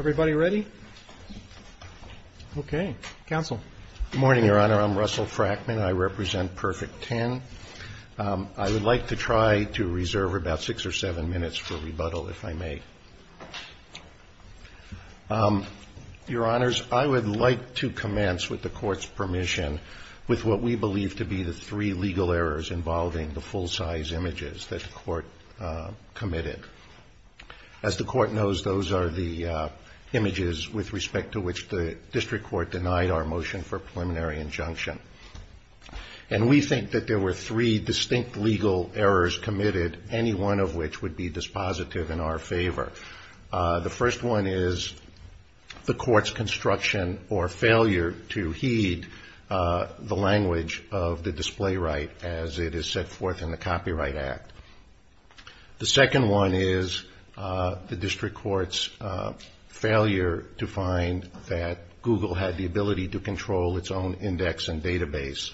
Good morning, Your Honor. I'm Russell Frackman. I represent Perfect 10. I would like to try to reserve about six or seven minutes for rebuttal, if I may. Your Honors, I would like to commence, with the Court's permission, with what we believe to be the three legal errors involving the full-size images that the Court committed. As the Court knows, those are the images with respect to which the District Court denied our motion for preliminary injunction. And we think that there were three distinct legal errors committed, any one of which would be dispositive in our favor. The first one is the Court's construction or failure to heed the language of the display right as it is set forth in the Copyright Act. The second one is the District Court's failure to find that Google had the ability to control its own index and database,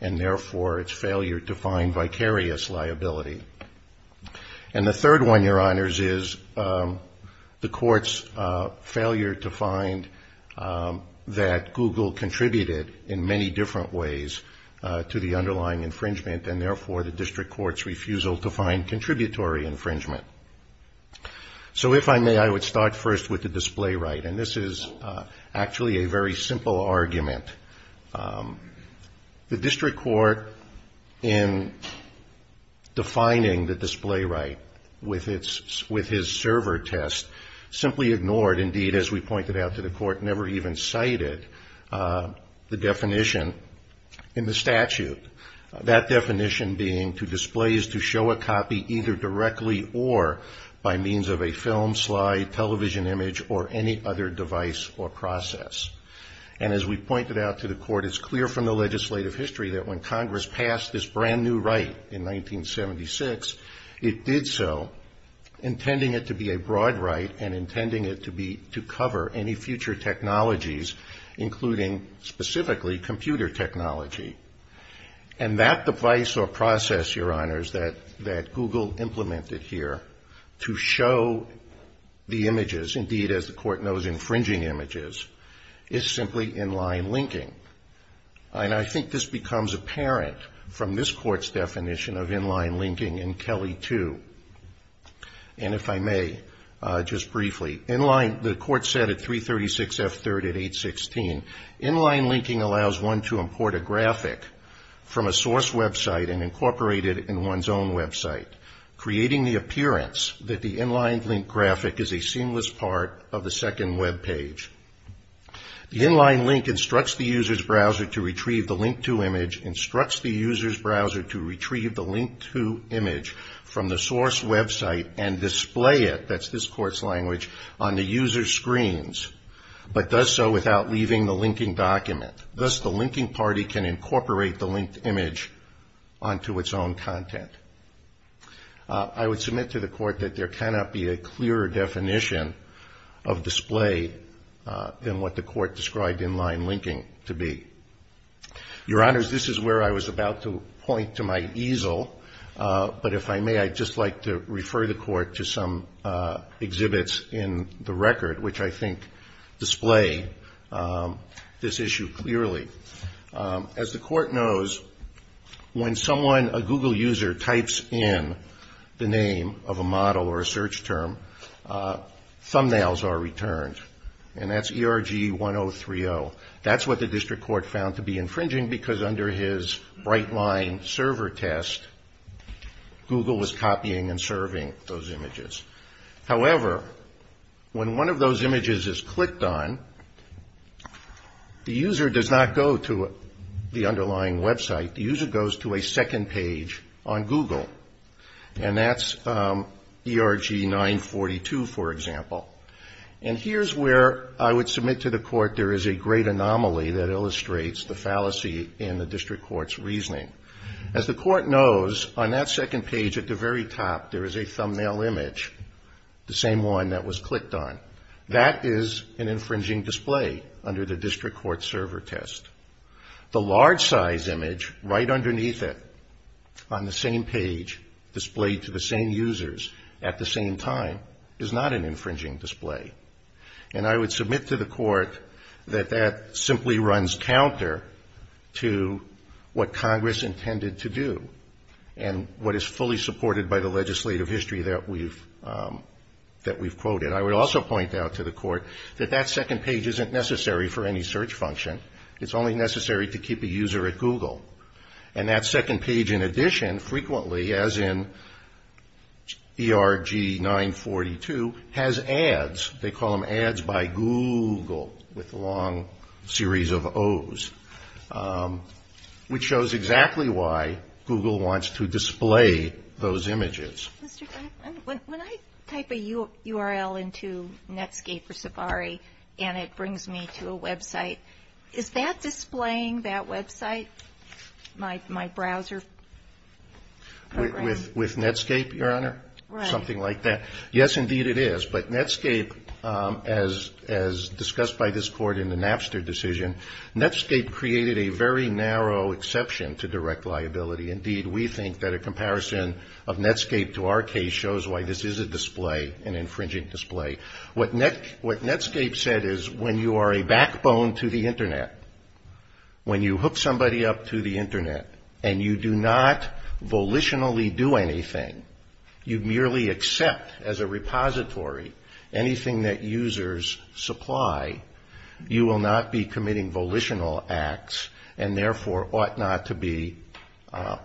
and therefore its failure to find vicarious liability. And the third one, Your Honors, is the Court's failure to find that Google contributed in many different ways to the underlying infringement, and therefore the District Court's refusal to find contributory infringement. So if I may, I would start first with the display right. And this is actually a very simple argument. The District Court, in defining the display right with its server test, simply ignored, indeed, as we pointed out to the Court, never even cited the definition in the statute, that definition being to display is to show a copy either directly or by means of a film, slide, television image, or any other device or process. And as we pointed out to the Court, it's clear from the legislative history that when Congress passed this brand new right in 1976, it did so intending it to be a broad right and intending it to cover any future technologies, including specifically computer technology. And that device or process, Your Honors, that Google implemented here to show the images, indeed, as the Court knows, infringing images, is simply inline linking. And I think this becomes apparent from this Court's definition of inline linking in Kelly 2. And if I may, just briefly, inline, the Court said at 336F3 at 816, inline link a graphic from a source website and incorporate it in one's own website, creating the appearance that the inline link graphic is a seamless part of the second web page. The inline link instructs the user's browser to retrieve the link to image, instructs the user's browser to retrieve the link to image from the source website and display it, that's this Court's language, on the user's screens, but does so without leaving the linking document. Thus, the linking party can incorporate the linked image onto its own content. I would submit to the Court that there cannot be a clearer definition of display than what the Court described inline linking to be. Your Honors, this is where I was about to point to my easel, but if I may, I'd just like to refer the Court to some exhibits in the record, which I think display this issue clearly. As the Court knows, when someone, a Google user, types in the name of a model or a search term, thumbnails are returned. And that's ERG1030. That's what the District Court's reasoning is. In the inline server test, Google was copying and serving those images. However, when one of those images is clicked on, the user does not go to the underlying website. The user goes to a second page on Google. And that's ERG942, for example. And here's where I would submit to the Court there is a great anomaly that illustrates the fallacy in the District Court's reasoning. As the Court knows, on that second page at the very top, there is a thumbnail image, the same one that was clicked on. That is an infringing display under the District Court's server test. The large size image right underneath it on the same page displayed to the same users at the same time is not an infringing display. And I would submit to the Court that that simply runs counter to what Congress intended to do and what is fully supported by the legislative history that we've quoted. I would also point out to the Court that that second page isn't necessary for any search function. It's only necessary to keep a user at Google. And that second page, in addition, frequently, as in ERG942, has ads. They call them ads by Google, with long series of O's, which shows exactly why Google wants to display those images. Ms. Laird. When I type a URL into Netscape or Safari, and it brings me to a website, is that displaying that website, my browser? With Netscape, Your Honor? Right. Something like that. Yes, indeed, it is. But Netscape, as discussed by this Court in the Napster decision, Netscape created a very narrow exception to direct liability. Indeed, we think that a comparison of Netscape to our case shows why this is a display, an infringing display. What Netscape said is when you are a backbone to the Internet, when you hook somebody up to the Internet and you do not volitionally do anything, you merely accept as a repository anything that users supply, you will not be committing volitional acts and therefore ought not to be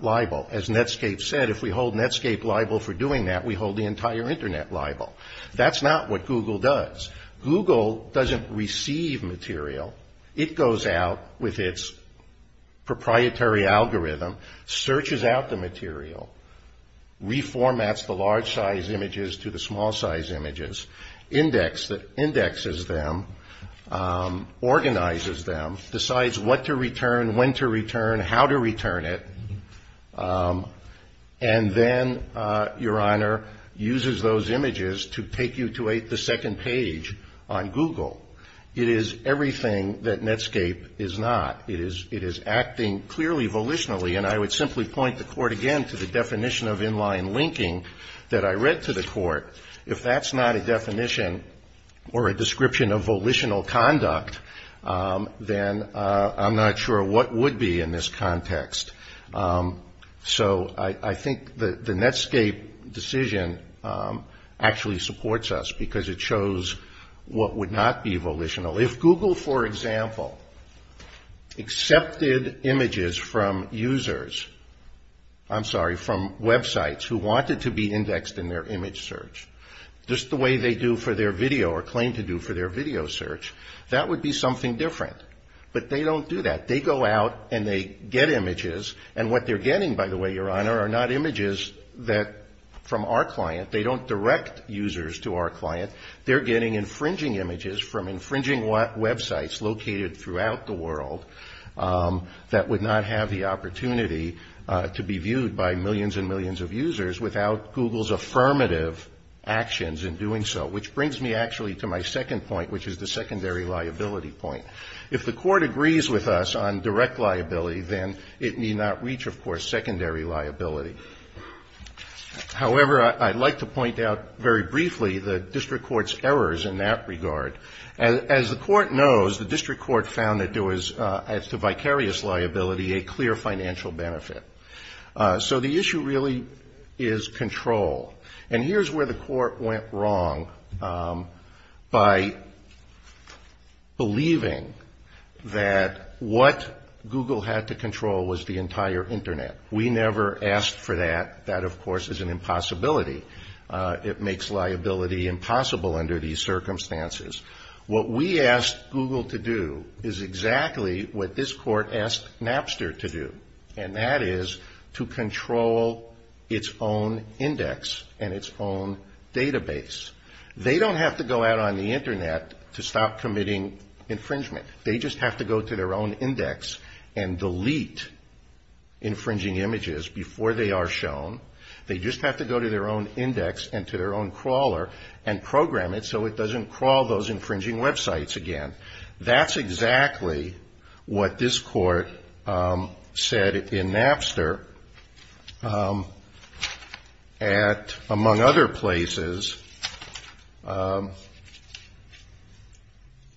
liable. As Netscape said, if we hold Netscape liable for doing that, we hold the entire Internet liable. That is not what Google does. Google does not receive material. It goes out with its proprietary algorithm, searches out the material, reformats the large-sized images to the small-sized images, indexes them, organizes them, decides what to return, when to return, how to return it, and then, Your Honor, uses those images to take you to the second page on Google. It is everything that Netscape is not. It is acting clearly volitionally, and I would simply point the Court again to the definition of in-line linking that I read to the Court. If that's not a definition or a description in a volitional conduct, then I'm not sure what would be in this context. So I think the Netscape decision actually supports us because it shows what would not be volitional. If Google, for example, accepted images from users, I'm sorry, from websites who wanted to be indexed in their image search, just the way they do for their video or claim to do for their video search, that would be something different. But they don't do that. They go out and they get images, and what they're getting, by the way, Your Honor, are not images from our client. They don't direct users to our client. They're getting infringing images from infringing websites located throughout the world that would not have the opportunity to be viewed by millions and millions of users without Google's affirmative actions in doing so, which brings me actually to my second point, which is the secondary liability point. If the Court agrees with us on direct liability, then it need not reach, of course, secondary liability. However, I'd like to point out very briefly the district court's errors in that regard. As the Court knows, the district court found that there was, as to vicarious liability, a clear financial benefit. So the issue really is control. And here's where the Court went wrong by believing that what Google had to control was the entire Internet. We never asked for that. That, of course, is an impossibility. It makes liability impossible under these circumstances. What we asked Google to do is exactly what this Court asked Napster to do, and that is to control its own index and its own database. They don't have to go out on the Internet to stop committing infringement. They just have to go to their own index and delete infringing images before they are shown. They just have to go to their own index and to their own sites again. That's exactly what this Court said in Napster at, among other places,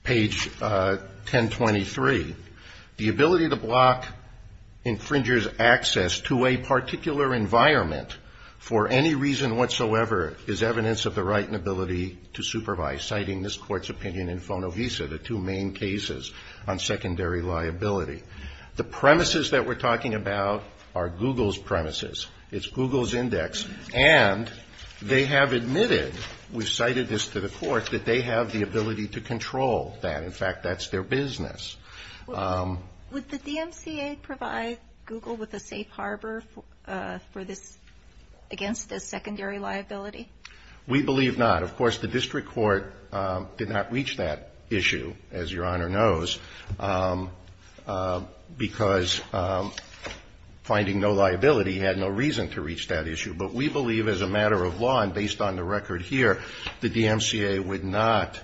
page 1023. The ability to block infringers' access to a particular environment for any reason whatsoever is evidence of the right and ability to supervise, citing this Court's opinion in Fonovisa, the two main cases on secondary liability. The premises that we're talking about are Google's premises. It's Google's index. And they have admitted, we've cited this to the Court, that they have the ability to control that. In fact, that's their business. Kagan. Would the DMCA provide Google with a safe harbor for this, against this secondary liability? We believe not. Of course, the district court did not reach that issue, as Your Honor knows, because finding no liability had no reason to reach that issue. But we believe as a matter of law, and based on the record here, the DMCA would not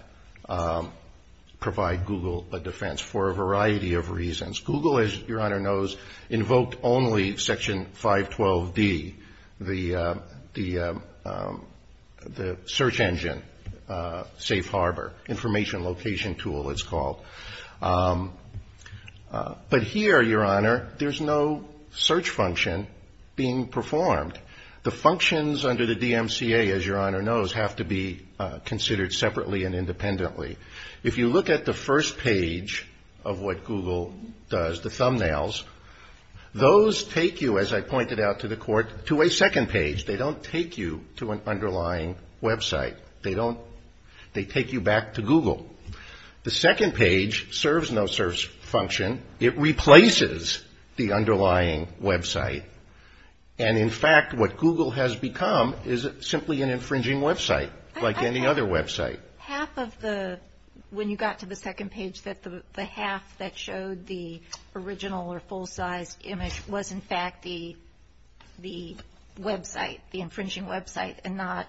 provide Google a defense for a variety of reasons. Google, as Your Honor knows, invoked only Section 512D, the, the search engine safe harbor, information location tool, it's called. But here, Your Honor, there's no search function being performed. The functions under the DMCA, as Your Honor knows, have to be considered separately and independently. If you look at the first page of what Google does, the thumbnails, those take you, as I pointed out to the Court, to a second page. They don't take you to an underlying website. They don't, they take you back to Google. The second page serves no search function. It replaces the underlying website. And in fact, what Google has become is simply an infringing website, like any other website. Half of the, when you got to the second page, that the half that showed the original or the infringing website and not...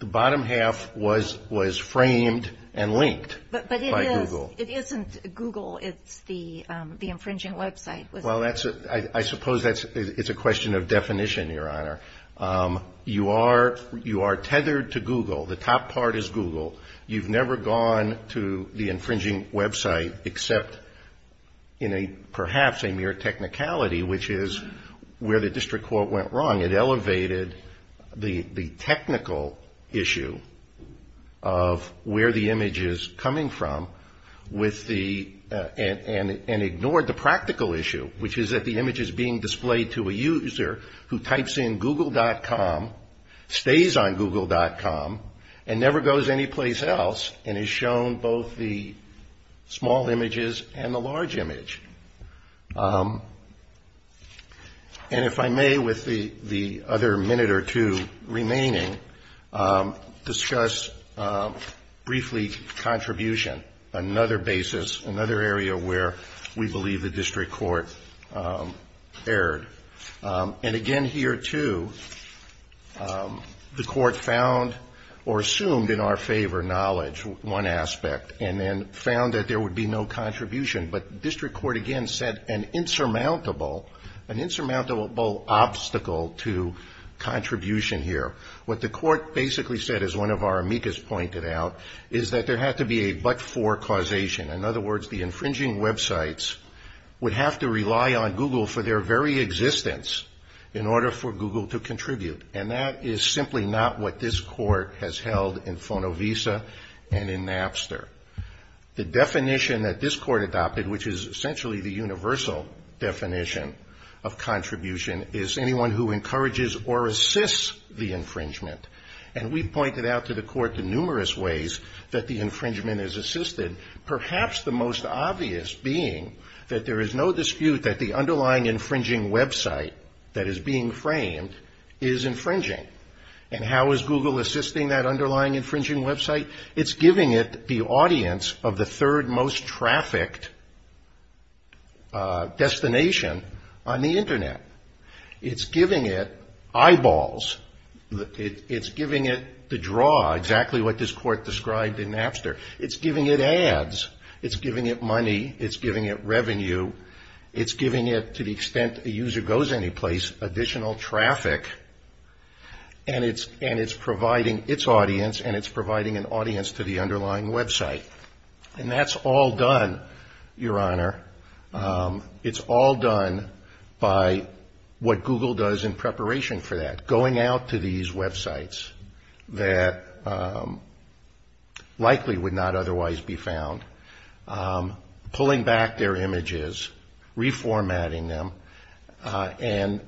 The bottom half was, was framed and linked by Google. But it is, it isn't Google. It's the, the infringing website. Well, that's a, I suppose that's, it's a question of definition, Your Honor. You are, you are tethered to Google. The top part is Google. You've never gone to the infringing website except in a, perhaps a mere technicality, which is where the District Court went wrong. It elevated the, the technical issue of where the image is coming from with the, and, and ignored the practical issue, which is that the image is being displayed to a user who types in Google.com, stays on Google.com, and never goes anyplace else, and is shown both the small images and the large image. And if I may, with the, the other minute or two remaining, discuss briefly contribution, another basis, another area where we believe the District Court erred. And again, here too, the Court found or assumed in our favor knowledge, one aspect, and then found that there would be no contribution. But District Court again said an insurmountable, an insurmountable obstacle to contribution here. What the Court basically said, as one of our amicus pointed out, is that there had to be a but-for causation. In other words, the infringing websites would have to rely on Google for their very existence in order for Google to contribute. And that is simply not what this Court has held in Fonovisa and in Napster. The definition that this Court adopted, which is essentially the universal definition of contribution, is anyone who encourages or assists the infringement. And we pointed out to the Court the numerous ways that the infringement is assisted, perhaps the most obvious being that there is no dispute that the underlying infringing website that is being framed is infringing. And how is Google assisting that underlying infringing website? It's giving it the audience of the third most trafficked destination on the Internet. It's giving it eyeballs. It's giving it the draw, exactly what this Court described in Napster. It's giving it ads. It's giving it to the extent a user goes anyplace, additional traffic. And it's providing its audience and it's providing an audience to the underlying website. And that's all done, Your Honor. It's all done by what Google does in preparation for that, going out to these websites that likely would not otherwise be found, pulling back their images, reformatting them, and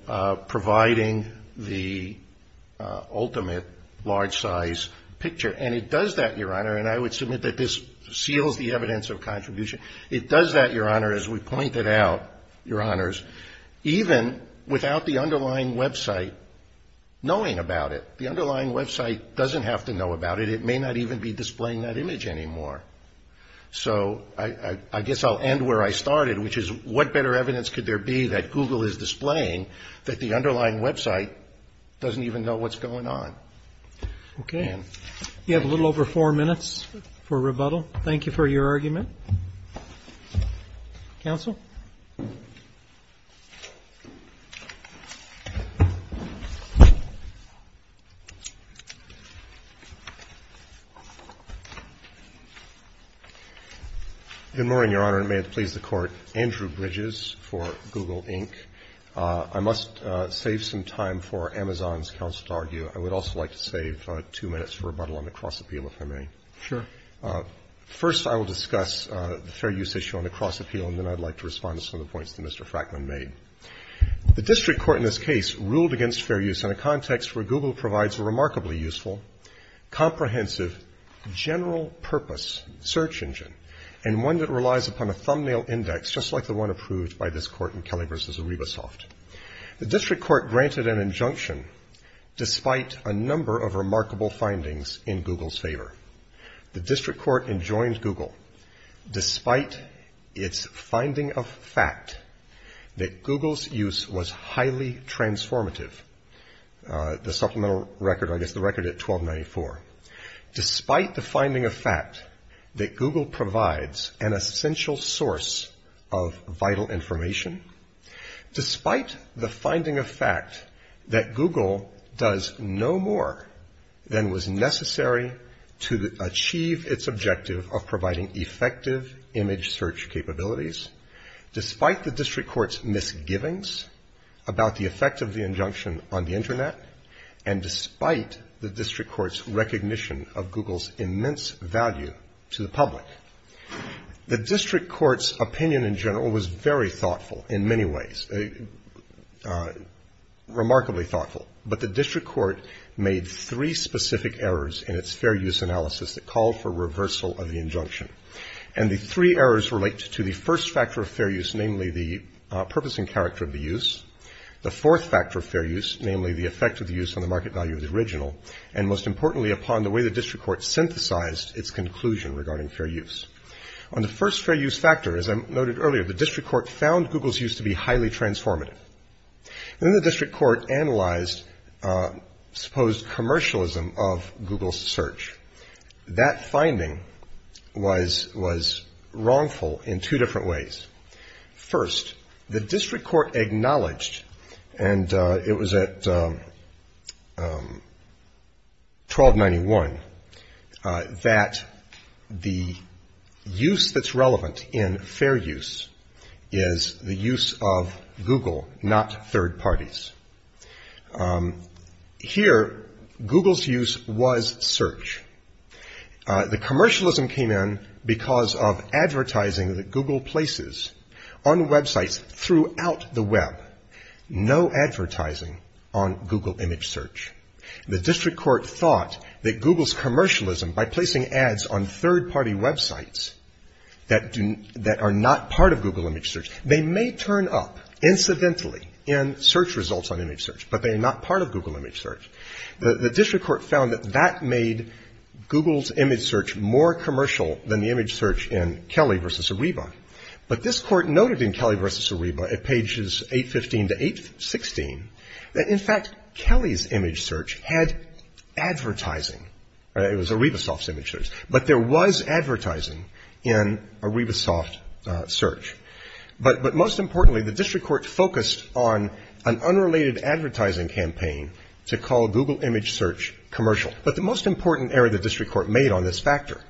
providing the ultimate large-size picture. And it does that, Your Honor, and I would submit that this seals the evidence of contribution. It does that, Your Honor, as we pointed out, Your Honors, even without the underlying website knowing about it. The underlying website doesn't have to know about it. It may not even be displaying that image anymore. So I guess I'll end where I started, which is, what better evidence could there be that Google is displaying that the underlying website doesn't even know what's going on? Okay. You have a little over four minutes for rebuttal. Thank you for your argument. Counsel? Good morning, Your Honor, and may it please the Court. Andrew Bridges for Google, Inc. I must save some time for Amazon's counsel to argue. I would also like to save two minutes for rebuttal on the cross-appeal, if I may. Sure. First, I will discuss the fair use issue on the cross-appeal, and then I'd like to respond to some of the points that Mr. Frackman made. The district court in this case ruled against fair use in a context where Google provides a remarkably useful, comprehensive, general-purpose search engine, and one that relies upon a thumbnail index, just like the one approved by this Court in Kelly v. ArribaSoft. The district court granted an injunction despite a number of remarkable findings in Google's favor. The district court enjoined Google, despite its finding of fact that Google's use was highly transformative, the supplemental record, I guess the record at 1294, despite the finding of fact that Google provides an essential source of vital information, despite the finding of fact that Google does no good no more than was necessary to achieve its objective of providing effective image search capabilities, despite the district court's misgivings about the effect of the injunction on the Internet, and despite the district court's recognition of Google's immense value to the public. The district court's opinion in general was very thoughtful in many ways, remarkably thoughtful, but the district court made three specific errors in its fair use analysis that called for reversal of the injunction. And the three errors relate to the first factor of fair use, namely the purpose and character of the use, the fourth factor of fair use, namely the effect of the use on the market value of the original, and most importantly upon the way the district court synthesized its conclusion regarding fair use. On the first fair use factor, as I noted earlier, the district court found Google's use to be highly transformative. And then the district court analyzed supposed commercialism of Google's search. That finding was wrongful in two different ways. First, the district court acknowledged, and it was at 1291, that the use that's relevant in fair use is the use of Google's search engine, not third parties. Here, Google's use was search. The commercialism came in because of advertising that Google places on websites throughout the web. No advertising on Google image search. The district court thought that Google's commercialism by placing ads on third parties was commercial. The district court found that that made Google's image search more commercial than the image search in Kelly v. Ariba. But this court noted in Kelly v. Ariba at pages 815 to 816, that in fact, Kelly's image search had advertising. It was Ariba Soft's image search. But there was advertising in Ariba Soft search. But most importantly, the district court focused on an unrelated advertising campaign to call Google image search commercial. But the most important error the district court made on this factor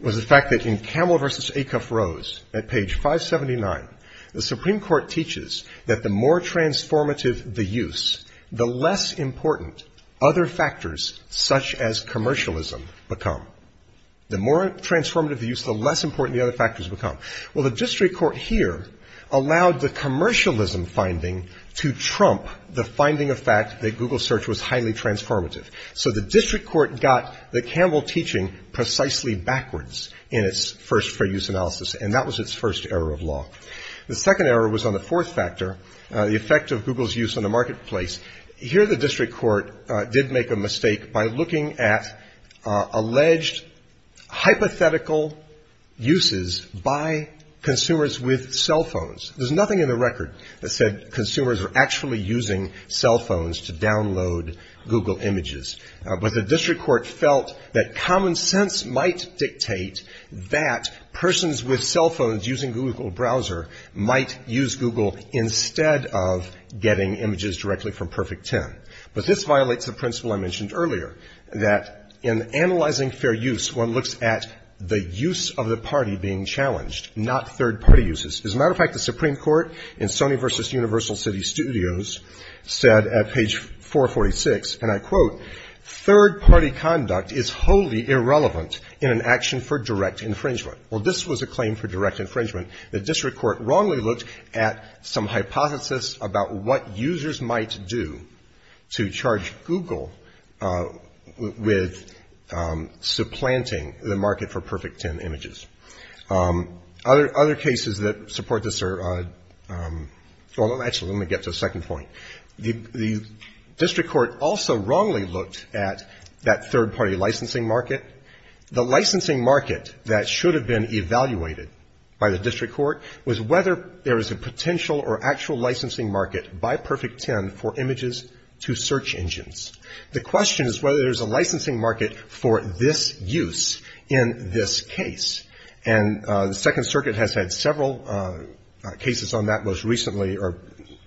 was the fact that in Camel v. Acuff-Rose at page 579, the Supreme Court teaches that the more transformative the use, the less important other factors such as commercialism become. The more transformative the use, the less important the other factors become. Well, the district court here allowed the commercialism finding to trump the finding of fact that Google search was highly transformative. So the district court got the Camel teaching precisely backwards in its first fair use analysis. And that was its first error of law. The second error was on the fourth factor, the effect of Google's use on the marketplace. Here the district court did make a mistake by looking at alleged hypothetical uses by consumers with cell phones. There's nothing in the record that said consumers were actually using cell phones to download Google images. But the district court felt that common sense might dictate that persons with cell phones using Google browser might use Google instead of getting images directly from Perfect 10. But this violates the principle I mentioned earlier, that in analyzing fair use, one looks at the use of the party being challenged, not third-party uses. As a matter of fact, the Supreme Court in Sony v. Universal City Studios said at page 446, and I quote, third-party conduct is wholly irrelevant in an action for direct infringement. Well, this was a claim for direct infringement. The district court wrongly looked at some hypothesis about what users might do to charge Google with supplanting the market for Perfect 10 images. Other cases that support this are, well, actually, let me get to a second point. The district court also wrongly looked at that third-party licensing market. The licensing market that should have been evaluated by the district court was whether there was a potential or actual licensing market by Perfect 10 for this use in this case. And the Second Circuit has had several cases on that most recently, or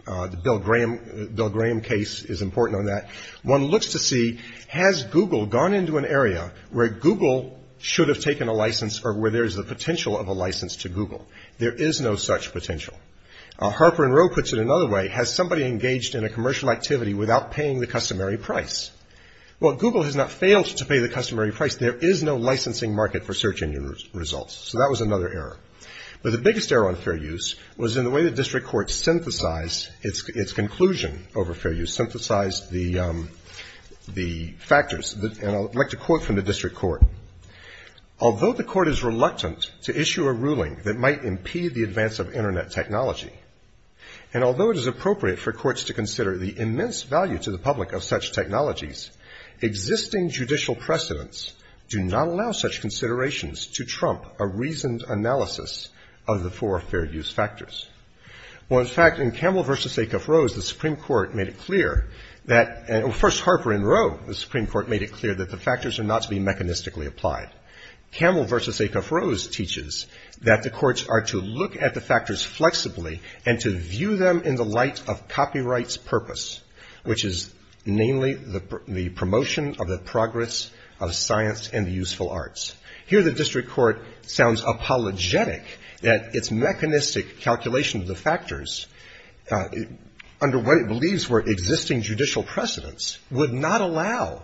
the Bill Graham case is important on that. One looks to see, has Google gone into an area where Google should have taken a license or where there is a potential of a license to Google? There is no such potential. Harper and Rowe puts it another way, has somebody engaged in a commercial activity without paying the customary price? Well, Google has not paid the customary price. There is no licensing market for search engine results. So that was another error. But the biggest error on fair use was in the way the district court synthesized its conclusion over fair use, synthesized the factors. And I'd like to quote from the district court. Although the court is reluctant to issue a ruling that might impede the advance of Internet technology, and although it is appropriate for courts to consider the immense value to the public of such technologies, existing judicial precedents do not allow such considerations to trump a reasoned analysis of the four fair use factors. Well, in fact, in Campbell v. Acuff-Rose, the Supreme Court made it clear that, first Harper and Rowe, the Supreme Court made it clear that the factors are not to be mechanistically applied. Campbell v. Acuff-Rose teaches that the courts are to look at the factors flexibly and to view them in the light of copyright's purpose, which is mainly the promotion of the progress of science and useful arts. Here the district court sounds apologetic that its mechanistic calculation of the factors under what it believes were existing judicial precedents would not allow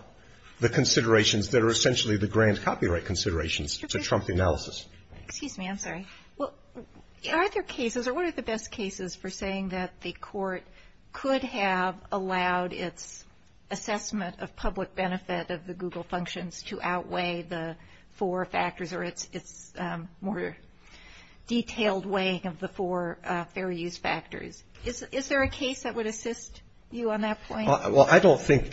the considerations that are essentially the grand copyright considerations to trump the analysis. Excuse me. I'm sorry. Well, are there cases or what are the best cases for saying that the court could have allowed its assessment of public benefit of the Google functions to outweigh the four factors or its more detailed weighing of the four fair use factors? Is there a case that would assist you on that point? Well, I don't think.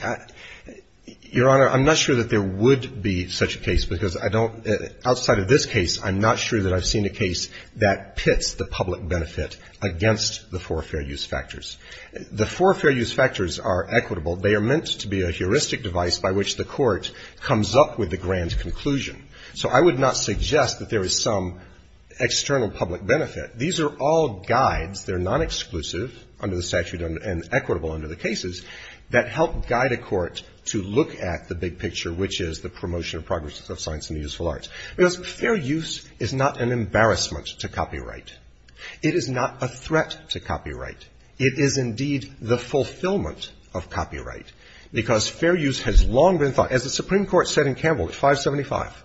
Your Honor, I'm not sure that there would be such a case, because I don't, outside of this case, I'm not sure that I've seen a case that pits the public benefit against the four fair use factors. The four fair use factors are equitable. They are meant to be a heuristic device by which the court comes up with the grand conclusion. So I would not suggest that there is some external public benefit. These are all guides. They're non-exclusive under the statute and equitable under the cases that help guide a court to look at the big picture, which is the promotion of progress of science and the useful arts. Because fair use is not an embarrassment to copyright. It is not a threat to copyright. It is indeed the fulfillment of copyright, because fair use has long been thought, as the Supreme Court said in Campbell at 575,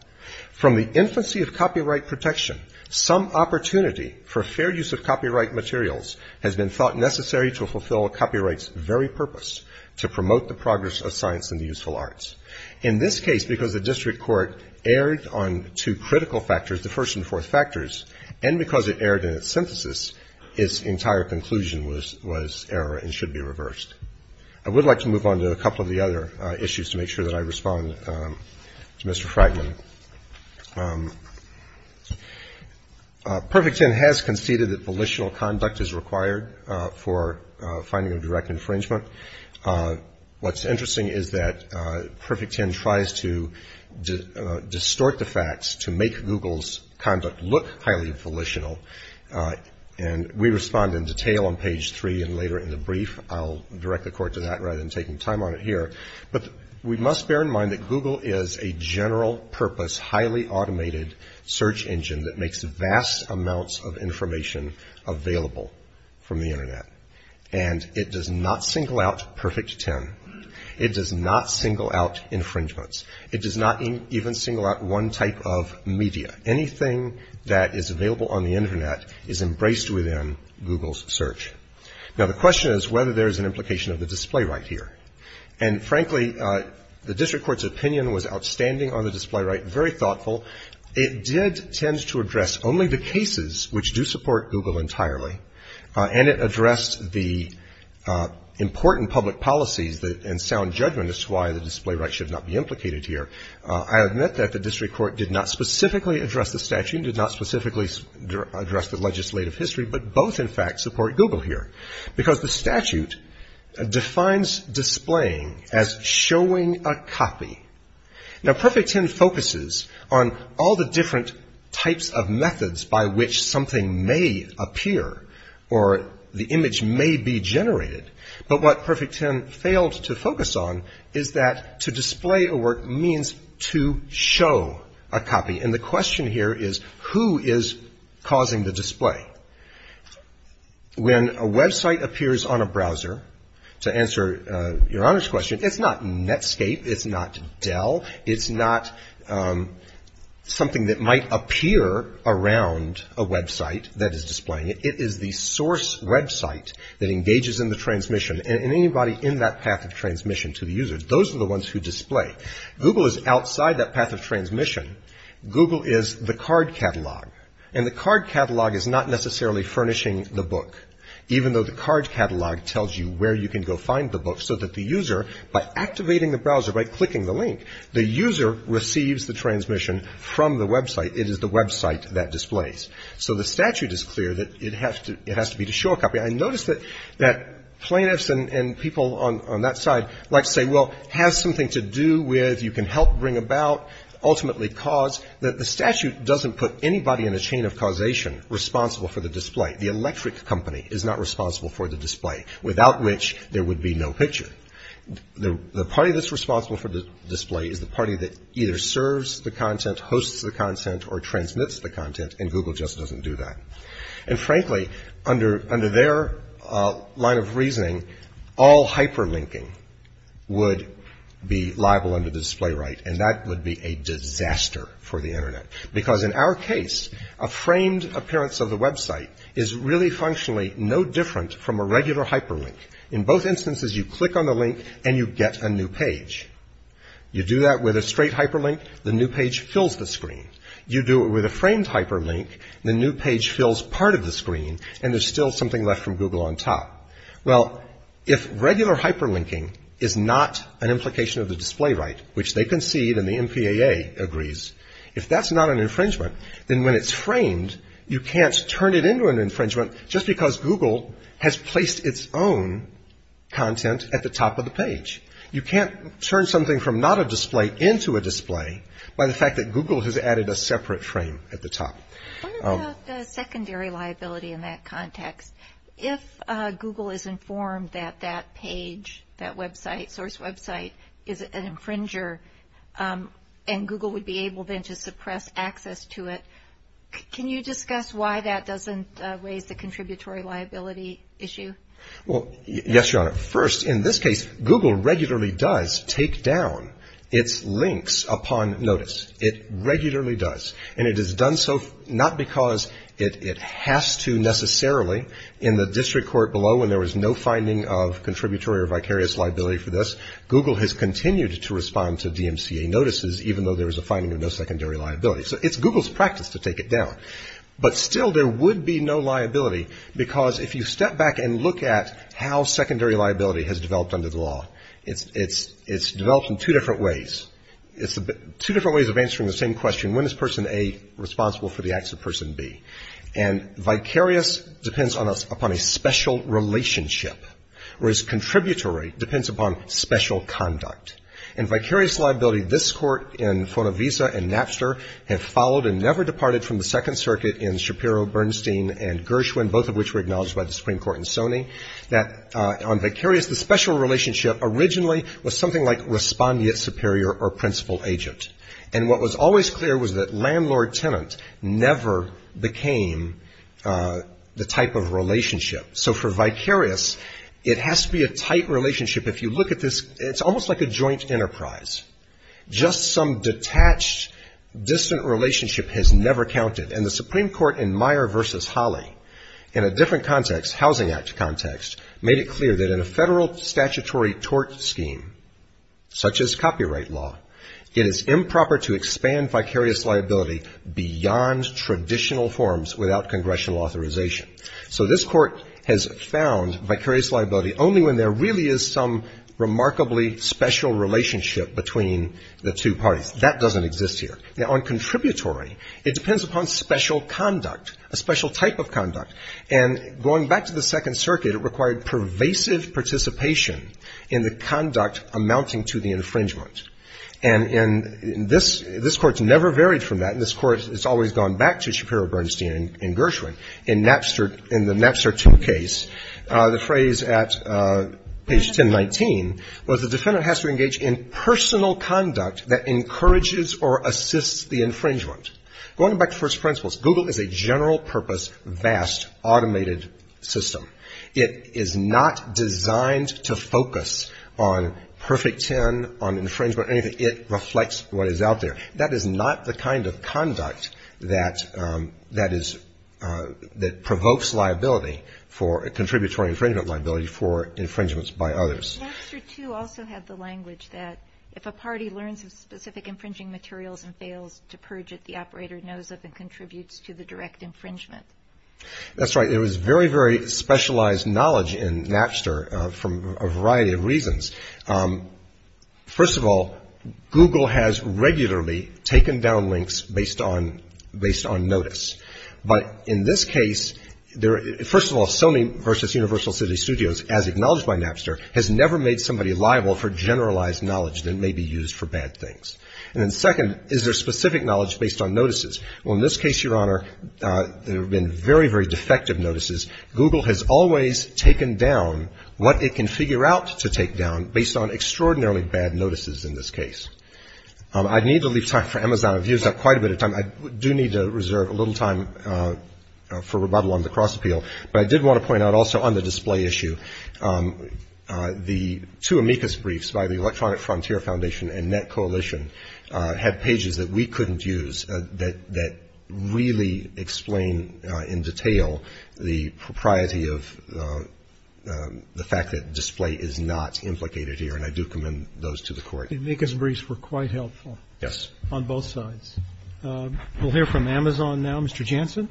from the infancy of copyright protection, some opportunity for fair use of copyright materials has been thought necessary to fulfill copyright's very purpose, to promote the progress of science and the useful arts. In this case, because the district court erred on two critical factors, the first and fourth factors, and because it erred in its synthesis, its entire conclusion was error and should be reversed. I would like to move on to a couple of the other issues to make sure that I respond to Mr. Fragman. Perfect Ten has conceded that volitional conduct is required for financial direct infringement. What's interesting is that Perfect Ten tries to distort the facts to make Google's conduct look highly volitional. And we respond in detail on page three and later in the brief. I'll direct the court to that rather than taking time on it here. But we must bear in mind that Google is a general purpose, highly automated search engine that makes vast amounts of information available from the Internet. And it does not single out Perfect Ten. It does not single out infringements. It does not even single out one type of media. Anything that is available on the Internet is embraced within Google's search. Now, the question is whether there is an implication of the display right here. And frankly, the district court's opinion was outstanding on the display right, very thoughtful. It did tend to address only the cases which do support Google entirely. And it addressed the important public policies and sound judgment as to why the display right should not be implicated here. I admit that the district court did not specifically address the statute, did not specifically address the legislative history, but both, in fact, support Google here. Because the statute defines displaying as showing a copy. Now, Perfect Ten focuses on all the different types of methods by which something may appear or the image may be generated. But what Perfect Ten failed to focus on is that to display a work means to show a copy. And the question here is who is causing the display? When a website appears on a browser, to answer Your Honor's question, it's not Netscape, it's not Dell, it's not something that might appear around a website that is displaying. It is the source website that engages in the transmission. And anybody in that path of transmission to the user, those are the ones who display. Google is outside that path of transmission. Google is the card catalog. And the card catalog is not necessarily furnishing the book, even though the card catalog tells you where you can go find the book, so that the user, by activating the browser, by clicking the link, the user receives the transmission from the website. It is the website that displays. So the statute is clear that it has to be to show a copy. I notice that plaintiffs and people on that side like to say, well, it has something to do with you can help bring about, ultimately cause, that the statute doesn't put anybody in a chain of causation responsible for the display. The electric company is not responsible for the display, without which there would be no picture. The party that's responsible for the display is the party that either serves the content, hosts the content, or transmits the content, and Google just doesn't do that. And frankly, under their line of reasoning, all hyperlinking would be liable under the display right, and that would be a disaster for the Internet. Because in our case, a framed hyperlink is a little different from a regular hyperlink. In both instances, you click on the link, and you get a new page. You do that with a straight hyperlink, the new page fills the screen. You do it with a framed hyperlink, the new page fills part of the screen, and there's still something left from Google on top. Well, if regular hyperlinking is not an implication of the display right, which they concede and the MPAA agrees, if that's not an infringement, then when it's framed, you can't turn it into an infringement just because Google has placed its own content at the top of the page. You can't turn something from not a display into a display by the fact that Google has added a separate frame at the top. I wonder about secondary liability in that context. If Google is informed that that page, that website, source website, is an infringer, and Google would be able then to suppress access to it, can you discuss why that doesn't raise the contributory liability issue? Well, yes, Your Honor. First, in this case, Google regularly does take down its links upon notice. It regularly does. And it has done so not because it has to necessarily. In the district court below, when there was no finding of contributory or vicarious liability for this, Google has continued to respond to DMCA notices, even though there was a finding of no secondary liability. So it's Google's practice to take it down. But still, there would be no liability because if you step back and look at how secondary liability has developed under the law, it's developed in two different ways. It's two different ways of answering the same question, when is person A responsible for the acts of person B? And vicarious depends upon a special relationship, whereas contributory depends upon special conduct. In vicarious liability, this court in Fonovisa and Napster have followed and never departed from the Second Circuit in Shapiro, Bernstein, and Gershwin, both of which were acknowledged by the Supreme Court in Sony, that on vicarious, the special relationship originally was something like respondeat superior or principal agent. And what was always clear was that landlord-tenant never became the type of relationship. So for vicarious, it is almost like a joint enterprise. Just some detached, distant relationship has never counted. And the Supreme Court in Meyer v. Holly, in a different context, Housing Act context, made it clear that in a federal statutory tort scheme, such as copyright law, it is improper to expand vicarious liability beyond traditional forms without congressional authorization. So this court has found vicarious liability only when there really is some remarkably special relationship between the two parties. That doesn't exist here. Now, on contributory, it depends upon special conduct, a special type of conduct. And going back to the Second Circuit, it required pervasive participation in the conduct amounting to the infringement. And this court's never varied from that, and this court has always gone back to Shapiro, in the Napster 2 case. The phrase at page 1019 was the defendant has to engage in personal conduct that encourages or assists the infringement. Going back to first principles, Google is a general purpose, vast, automated system. It is not designed to focus on perfect ten, on infringement, anything. It reflects what is out there. That is not the kind of conduct that is, that provokes liability for, contributory infringement liability for infringements by others. Napster 2 also had the language that if a party learns of specific infringing materials and fails to purge it, the operator knows of and contributes to the direct infringement. That's right. There was very, very specialized knowledge in Napster from a variety of reasons. First of all, Google has regularly taken down links based on, based on notice. But in this case, there, first of all, Sony versus Universal City Studios, as acknowledged by Napster, has never made somebody liable for generalized knowledge that may be used for bad things. And then second, is there specific knowledge based on notices? Well, in this case, Your Honor, there have been very, very defective notices. Google has always taken down what it can figure out to take down based on extraordinarily bad notices in this case. I need to leave time for Amazon. I've used up quite a bit of time. I do need to reserve a little time for rebuttal on the cross appeal. But I did want to point out also on the display issue, the two amicus briefs by the Electronic Frontier Foundation and Net Coalition had pages that we couldn't use that, that really explain in detail the propriety of the fact that display is not implicated here. And I do commend those to the Court. The amicus briefs were quite helpful. Yes. On both sides. We'll hear from Amazon now. Mr. Jansen.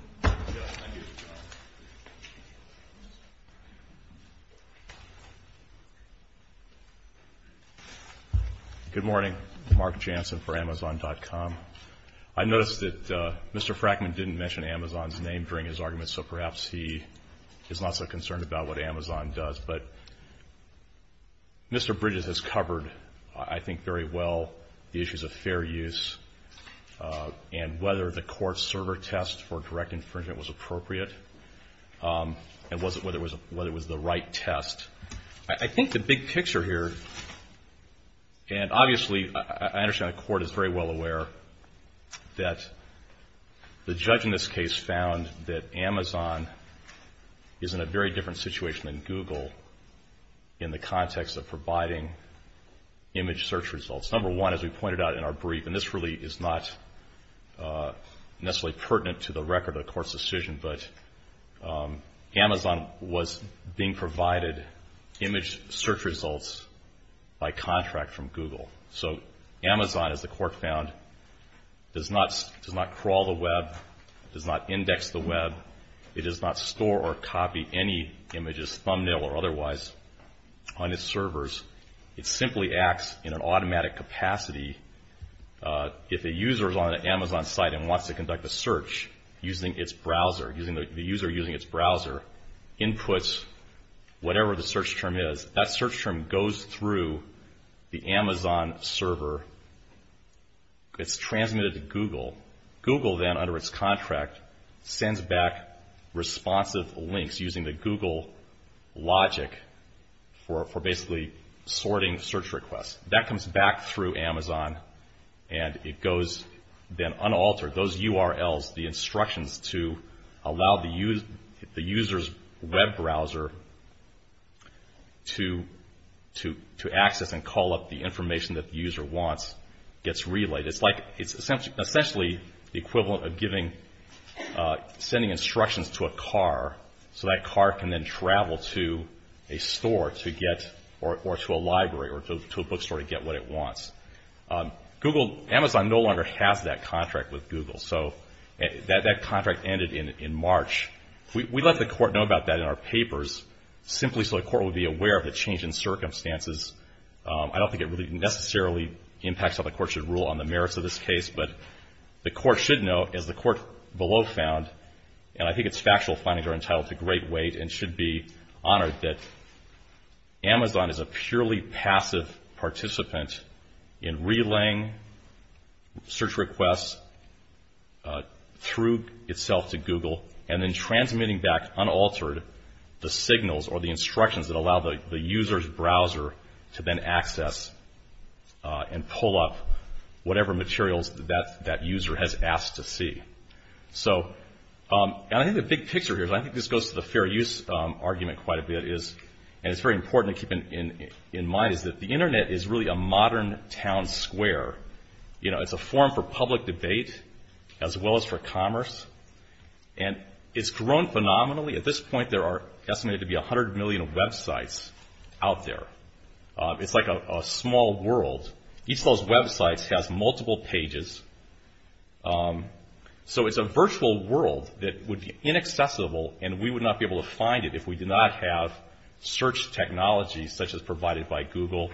Good morning. Mark Jansen for Amazon.com. I noticed that Mr. Frackman didn't mention Amazon's name during his argument, so perhaps he is not so concerned about what Amazon does. But Mr. Bridges has covered, I think, very well the issues of fair use and whether the court's server test for direct infringement was appropriate and whether it was the right test. I think the big picture here, and obviously I understand the Court is very well aware that the judge in this case found that Amazon is in a very different situation than Google in the context of providing image search results. Number one, as we pointed out in our brief, and this really is not necessarily pertinent to the record of the Court's decision, but Amazon was being provided image search results by contract from Google. So Amazon, as the Court found, does not crawl the web, does not index the web, it does not store or copy any images, thumbnail or otherwise, on its servers. It simply acts in an automatic capacity if a user is on an Amazon site and wants to conduct a search using its browser, the user using its browser, inputs whatever the search term is. That search term goes through the Amazon server. It's transmitted to Google. Google then, under its contract, sends back responsive links using the Google logic for basically sorting search requests. That comes back through Amazon and it goes then unaltered, those URLs, the instructions to allow the user's web browser to access and call up the equivalent of sending instructions to a car so that car can then travel to a store to get or to a library or to a bookstore to get what it wants. Amazon no longer has that contract with Google. So that contract ended in March. We let the Court know about that in our papers simply so the Court would be aware of the change in circumstances. I don't think it really necessarily impacts how the Court should rule on the merits of this case, but the Court should know, as the Court below found, and I think its factual findings are entitled to great weight and should be honored, that Amazon is a purely passive participant in relaying search requests through itself to Google and then transmitting back, unaltered, the signals or the instructions that allow the user's browser to then access and pull up whatever materials that user has asked to see. So I think the big picture here is I think this goes to the fair use argument quite a bit is, and it's very important to keep in mind, is that the Internet is really a modern town square. You know, it's a forum for public debate as well as for commerce. And it's grown phenomenally. At this point there are estimated to be 100 million websites out there. It's like a small world. Each of those websites has multiple pages. So it's a virtual world that would be inaccessible and we would not be able to find it if we did not have search technology such as provided by Google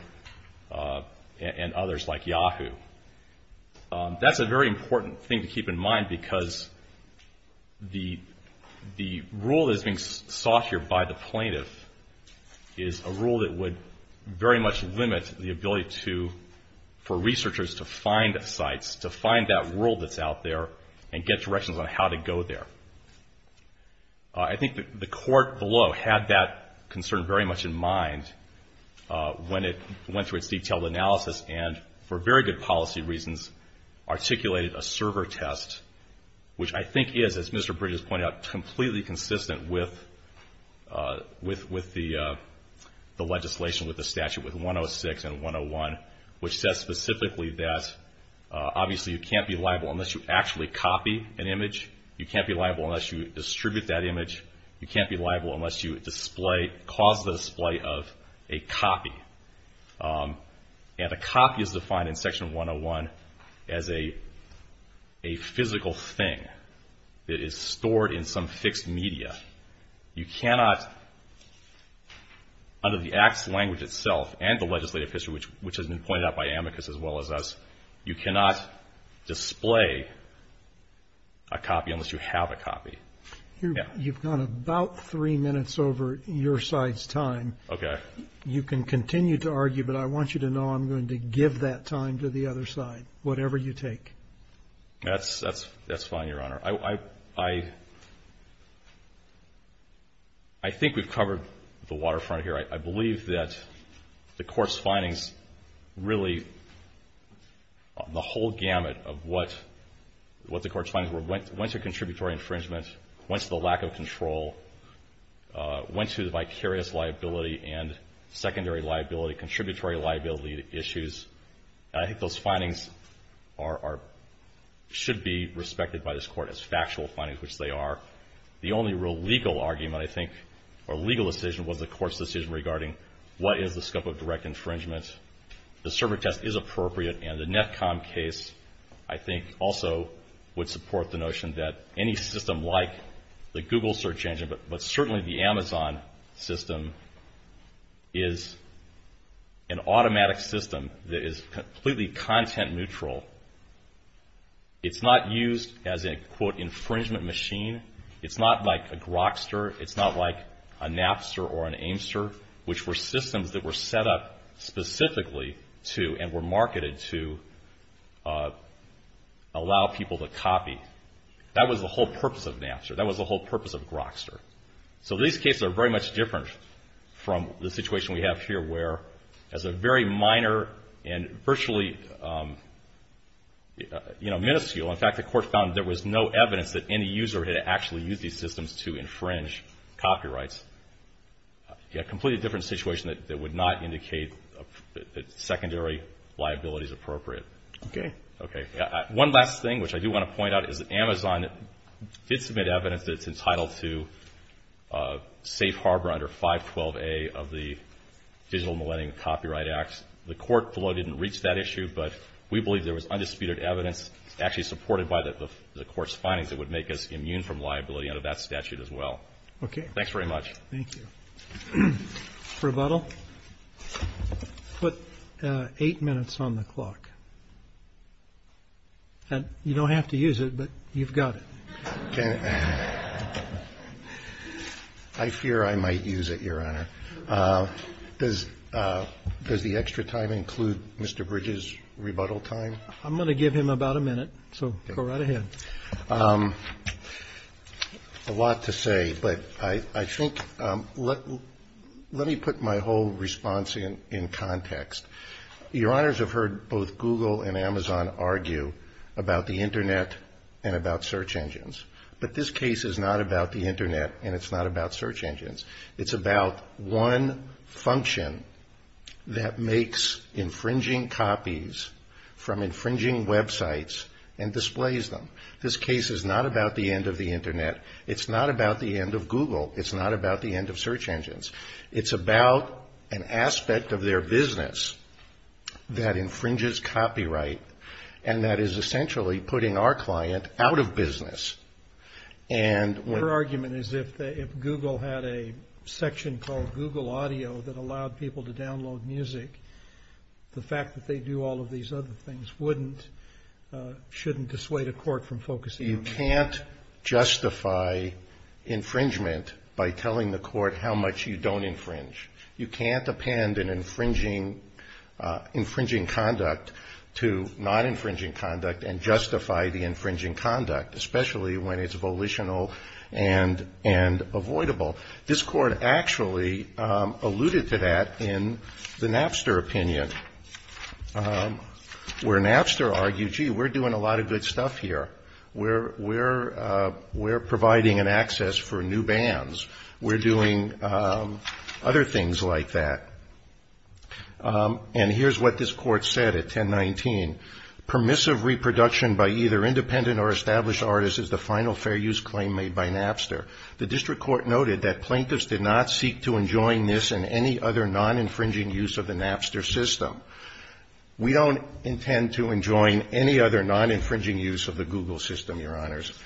and others like Yahoo. That's a very important thing to keep in mind because the rule that's being sought here by the plaintiff is a rule that would very much limit the ability to, for researchers to find sites, to find that world that's out there and get directions on how to go there. I think the court below had that concern very much in mind when it went through its detailed analysis and, for very good policy reasons, articulated a server test, which I think is, as Mr. Bridges pointed out, completely consistent with the legislation, with the statute, with 106 and 101, which says specifically that obviously you can't be liable unless you actually copy an image. You can't be liable unless you distribute that image. You can't be liable unless you cause the display of a copy. And a copy is defined in Section 101 as a physical thing that is stored in some fixed media. You cannot, under the Act's language itself and the legislative history, which has been pointed out by Amicus as well as us, you cannot display a copy unless you have a copy. You've gone about three minutes over your side's time. You can continue to argue, but I want you to know I'm going to give that time to the other side, whatever you take. That's fine, Your Honor. I think we've covered the waterfront here. I believe that the court's findings really, the whole gamut of what the court's findings were, went to contributory infringement, went to the lack of control, went to the vicarious liability and secondary liability, contributory liability issues. I think those findings should be respected by this Court as factual findings, which they are. The only real legal argument, I think, or legal decision, was the Court's decision regarding what is the scope of direct infringement. The server test is appropriate, and the NETCOM case, I think, also would support the notion that any system like the Google search engine, but certainly the Amazon system, is an automatic system that is completely content neutral. It's not used as a, quote, infringement machine. It's not like a Grokster. It's not like a Napster or an Amester, which were systems that were set up specifically to, and were marketed to, allow people to copy. That was the whole purpose of Napster. That was the whole purpose of Grokster. So these cases are very much different from the situation we have here, where, as a very minor and virtually minuscule, in fact, the court found there was no evidence that any user had actually used these systems to infringe copyrights. A completely different situation that would not indicate that secondary liability is appropriate. Okay. Okay. One last thing, which I do want to point out, is that Amazon did submit evidence that it's entitled to safe harbor under 512A of the Digital Millennium Copyright Act. The court, below, didn't reach that issue, but we believe there was undisputed evidence actually supported by the court's findings that would make us immune from liability under that statute Okay. Thanks very much. Thank you. Rebuttal? Put eight minutes on the clock. And you don't have to use it, but you've got it. I fear I might use it, Your Honor. Does the extra time include Mr. Bridges' rebuttal time? I'm going to give him about a minute, so go right ahead. A lot to say, but I think, let me put my whole response in context. Your Honors have heard both Google and Amazon argue about the Internet and about search engines, but this case is not about the Internet and it's not about search engines. It's about one function that makes infringing copies from infringing websites and displays them. This case is not about the end of the Internet. It's not about the end of Google. It's not about the end of search engines. It's about an aspect of their business that infringes copyright and that is essentially putting our client out of business. Your argument is if Google had a section called Google Audio that allowed people to download music, the fact that they do all of these other things wouldn't, shouldn't dissuade a court from focusing on music. You can't justify infringement by telling the court how much you don't infringe. You can't append an infringing, infringing conduct to non-infringing conduct and justify the infringing conduct, especially when it's volitional and avoidable. This court actually alluded to that in the Napster opinion, where Napster argued, gee, we're doing a lot of good stuff here. We're providing an access for new bands. We're doing other things like that. And here's what this court said at 1019, permissive reproduction by either independent or established artists is the final fair use claim made by Napster. The district court noted that plaintiffs did not seek to enjoin this in any other non-infringing use of the Napster system. We don't intend to enjoin any other non-infringing use of the Google system, Your Honors.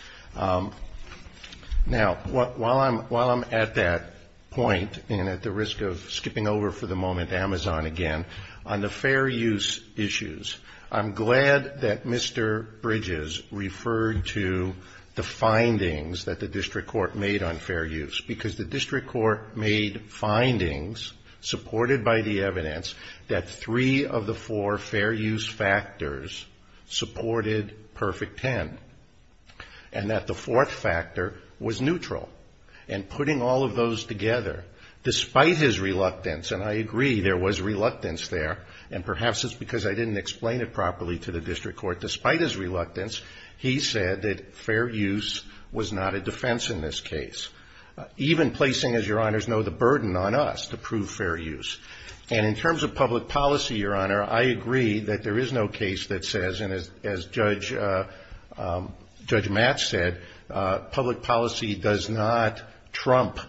Now, while I'm at that point and at the risk of skipping over for the moment Amazon again, on the fair use issues, I'm glad that Mr. Bridges referred to the findings that the court made findings supported by the evidence that three of the four fair use factors supported Perfect Ten and that the fourth factor was neutral. And putting all of those together, despite his reluctance, and I agree, there was reluctance there, and perhaps it's because I didn't explain it properly to the district court, despite his reluctance, he said that Your Honors know the burden on us to prove fair use. And in terms of public policy, Your Honor, I agree that there is no case that says, and as Judge Matt said, public policy does not trump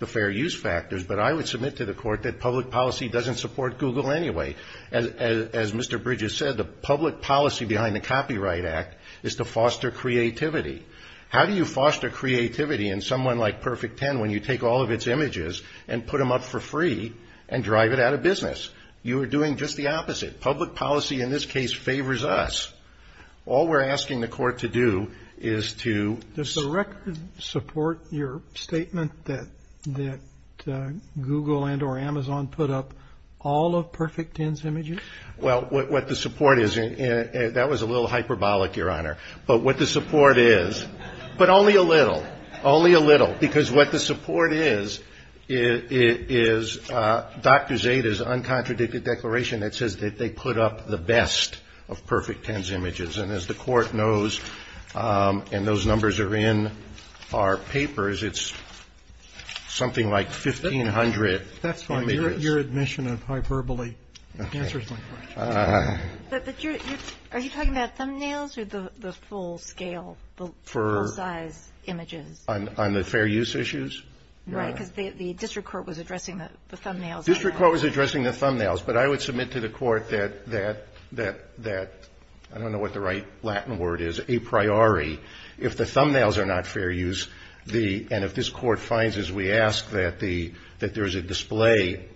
the fair use factors, but I would submit to the court that public policy doesn't support Google anyway. As Mr. Bridges said, the public policy behind the Copyright Act is to foster creativity. How do you foster creativity in someone like Perfect Ten when you take all of its images and put them up for free and drive it out of business? You are doing just the opposite. Public policy in this case favors us. All we're asking the court to do is to Does the record support your statement that Google and or Amazon put up all of Perfect Ten's images? Well, what the support is, that was a little hyperbolic, Your Honor, but what the support is, but only a little, only a little, because what the support is, is Dr. Zade's uncontradicted declaration that says that they put up the best of Perfect Ten's images. And as the court knows, and those numbers are in our papers, it's something like 1,500 images. That's fine. Your admission of hyperbole answers my question. But are you talking about thumbnails or the full-scale, the full-size images? On the fair use issues? Right, because the district court was addressing the thumbnails. The district court was addressing the thumbnails, but I would submit to the court that, I don't know what the right Latin word is, a priori, if the thumbnails are not fair use, and if this court finds, as we ask, that there is a display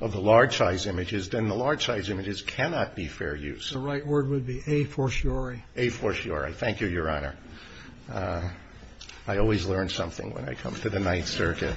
of the large-size images, then the thumbnails cannot be fair use. The right word would be a fortiori. A fortiori. Thank you, Your Honor. I always learn something when I come to the Ninth Circuit.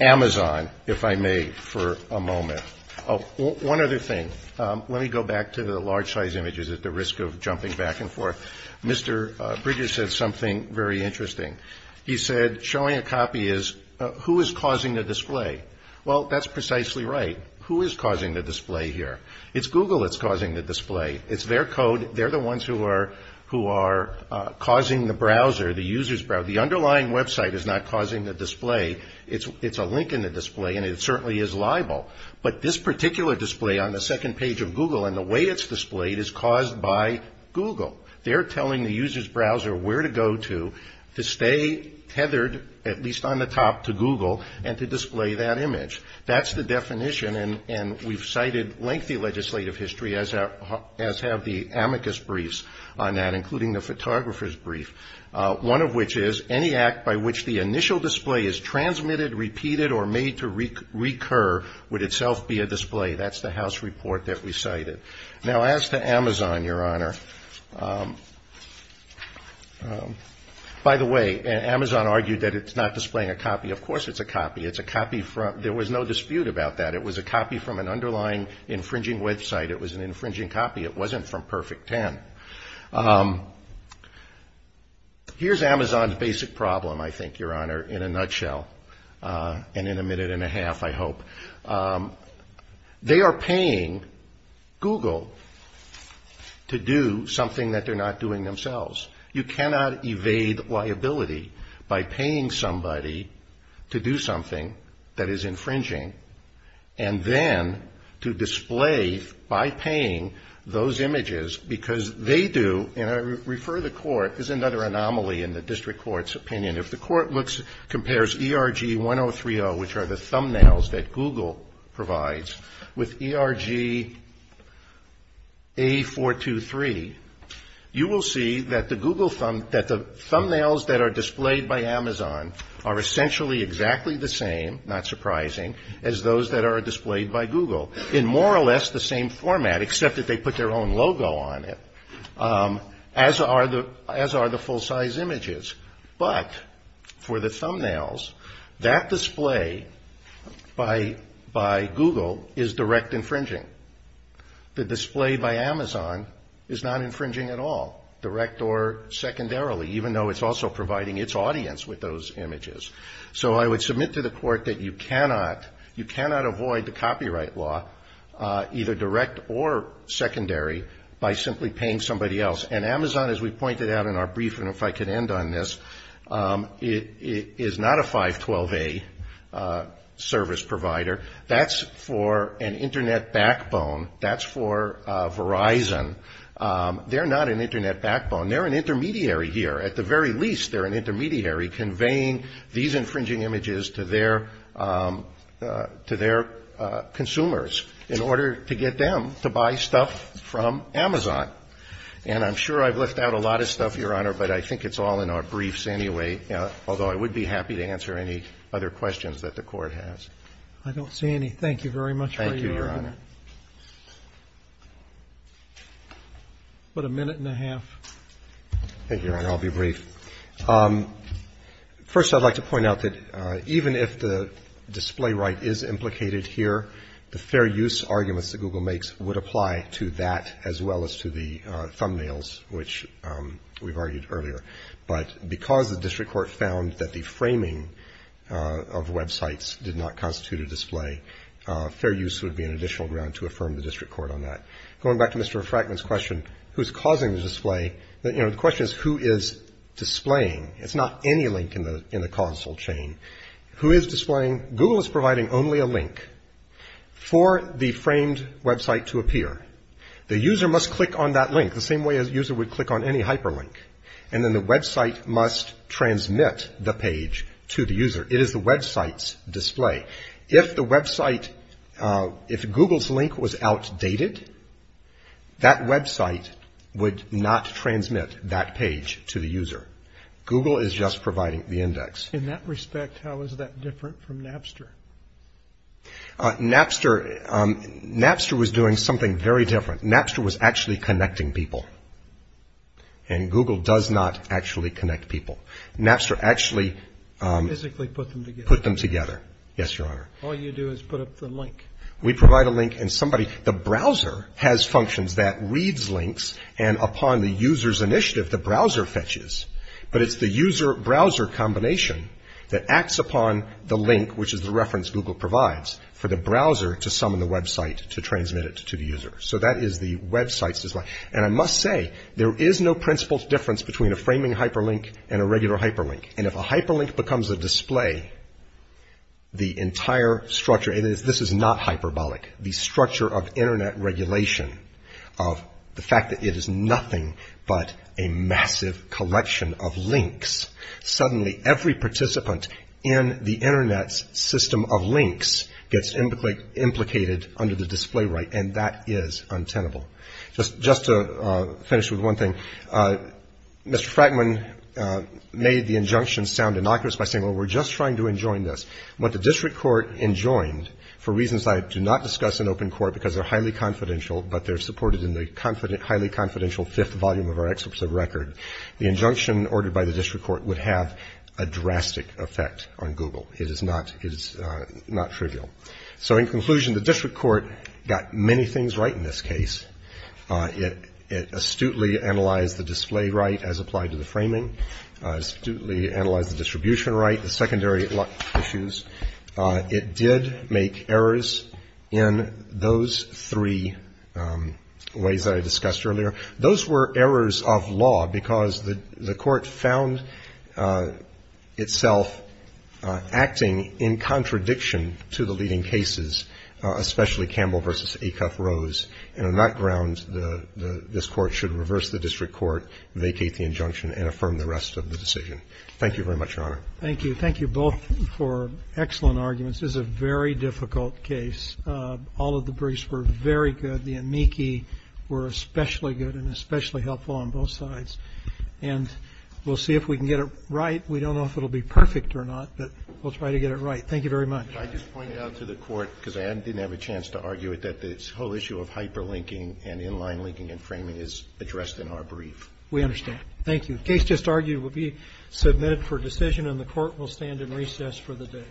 Amazon, if I may, for a moment. Oh, one other thing. Let me go back to the large-size images at the risk of jumping back and forth. Mr. Bridges said something very interesting. He said, showing a copy is, who is causing the display? Well, that's precisely right. Who is causing the display here? It's Google that's causing the display. It's their code. They're the ones who are causing the browser, the user's browser. The underlying website is not causing the display. It's a link in the display, and it certainly is liable. But this particular display on the second page of Google and the way it's displayed is caused by Google. They're telling the user's browser where to go to to stay tethered, at least on the top, to Google and to display that image. That's the definition, and we've cited lengthy legislative history, as have the amicus briefs on that, including the photographer's brief. One of which is, any act by which the initial display is transmitted, repeated, or made to recur would itself be a display. That's the House report that we cited. Now, as to Amazon, Your Honor, by the way, Amazon argued that it's not displaying a copy. Of course it's a copy. It's a copy from, there was no dispute about that. It was a copy from an underlying infringing website. It was an infringing copy. It wasn't from Perfect Ten. Here's Amazon's basic problem, I think, Your Honor, in a nutshell, and in a minute and a half, I hope. They are paying Google to do something that they're not doing themselves. You cannot evade liability by paying somebody to do something that is infringing, and then to display by paying those images because they do, and I refer to the court, is another anomaly in the district court's opinion. If the court compares ERG-1030, which are the thumbnails that Google provides, with ERG-A423, you will see that the thumbnails that are displayed by Amazon are essentially exactly the same, not surprising, as those that are displayed by Google, in more or less the same format, except that they put their own logo on it, as are the full-size images. But for the thumbnails, that display by Google is direct infringing. The display by Amazon is not infringing at all, direct or secondarily, even though it's also providing its audience with those images. So I would submit to the court that you cannot avoid the copyright law, either direct or secondary, by simply paying somebody else. And Amazon, as we pointed out in our briefing, if I could end on this, is not a 512A service provider. That's for an Internet backbone. That's for Verizon. They're not an Internet backbone. They're an intermediary here. At the very least, they're an intermediary conveying these infringing images to their consumers in order to get them to buy stuff from Amazon. And I'm sure I've left out a lot of stuff, Your Honor, but I think it's all in our briefs anyway, although I would be happy to answer any other questions that the Court has. Roberts. I don't see any. Thank you very much, Your Honor. Thank you, Your Honor. About a minute and a half. Thank you, Your Honor. I'll be brief. First, I'd like to point out that even if the display right is implicated here, the fair use arguments that Google makes would apply to that as well as to the thumbnails, which we've argued earlier. But because the district court found that the framing of websites did not constitute a display, fair use would be an additional ground to affirm the district court on that. Going back to Mr. Frackman's question, who's causing the display, the question is who is displaying. It's not any link in the console chain. Who is displaying? Google is providing only a link for the framed website to appear. The user must click on that link the same way a user would click on any hyperlink. And then the website must transmit the page to the user. It is the website's display. If the website, if Google's link was outdated, that website would not transmit that page to the user. Google is just providing the index. In that respect, how is that different from Napster? Napster was doing something very different. Napster was actually connecting people, and Google does not actually connect people. Napster actually put them together. Yes, Your Honor. All you do is put up the link. We provide a link, and somebody, the browser has functions that reads links, and upon the user's initiative, the browser fetches. But it's the user-browser combination that acts upon the link, which is the reference Google provides for the browser to summon the website to transmit it to the user. So that is the website's display. And I must say, there is no principled difference between a framing hyperlink and a regular hyperlink. And if a hyperlink becomes a display, the entire structure, and this is not hyperbolic, the structure of Internet regulation, of the fact that it is nothing but a massive collection of links, suddenly every participant in the Internet's system of links gets implicated under the display right, and that is untenable. Just to finish with one thing, Mr. Frackman made the injunction sound innocuous by saying, well, we're just trying to enjoin this. What the district court enjoined, for reasons I do not discuss in open court because they're highly confidential, but they're supported in the highly confidential fifth volume of our excerpts of record, the injunction ordered by the district court would have a drastic effect on Google. It is not trivial. So in conclusion, the district court got many things right in this case. It astutely analyzed the display right as applied to the framing, astutely analyzed the distribution right, the secondary issues. It did make errors in those three ways that I discussed earlier. Those were errors of law because the court found itself acting in contradiction to the leading cases, especially Campbell v. Acuff-Rose, and on that ground, this Court should reverse the district court, vacate the injunction and affirm the rest of the decision. Thank you very much, Your Honor. Thank you. Thank you both for excellent arguments. This is a very difficult case. All of the briefs were very good. The amici were especially good and especially helpful on both sides. And we'll see if we can get it right. We don't know if it will be perfect or not, but we'll try to get it right. Thank you very much. I just pointed out to the Court, because I didn't have a chance to argue it, that this whole issue of hyperlinking and inline linking and framing is addressed in our brief. We understand. Thank you. The case just argued will be submitted for decision, and the Court will stand in recess for the day.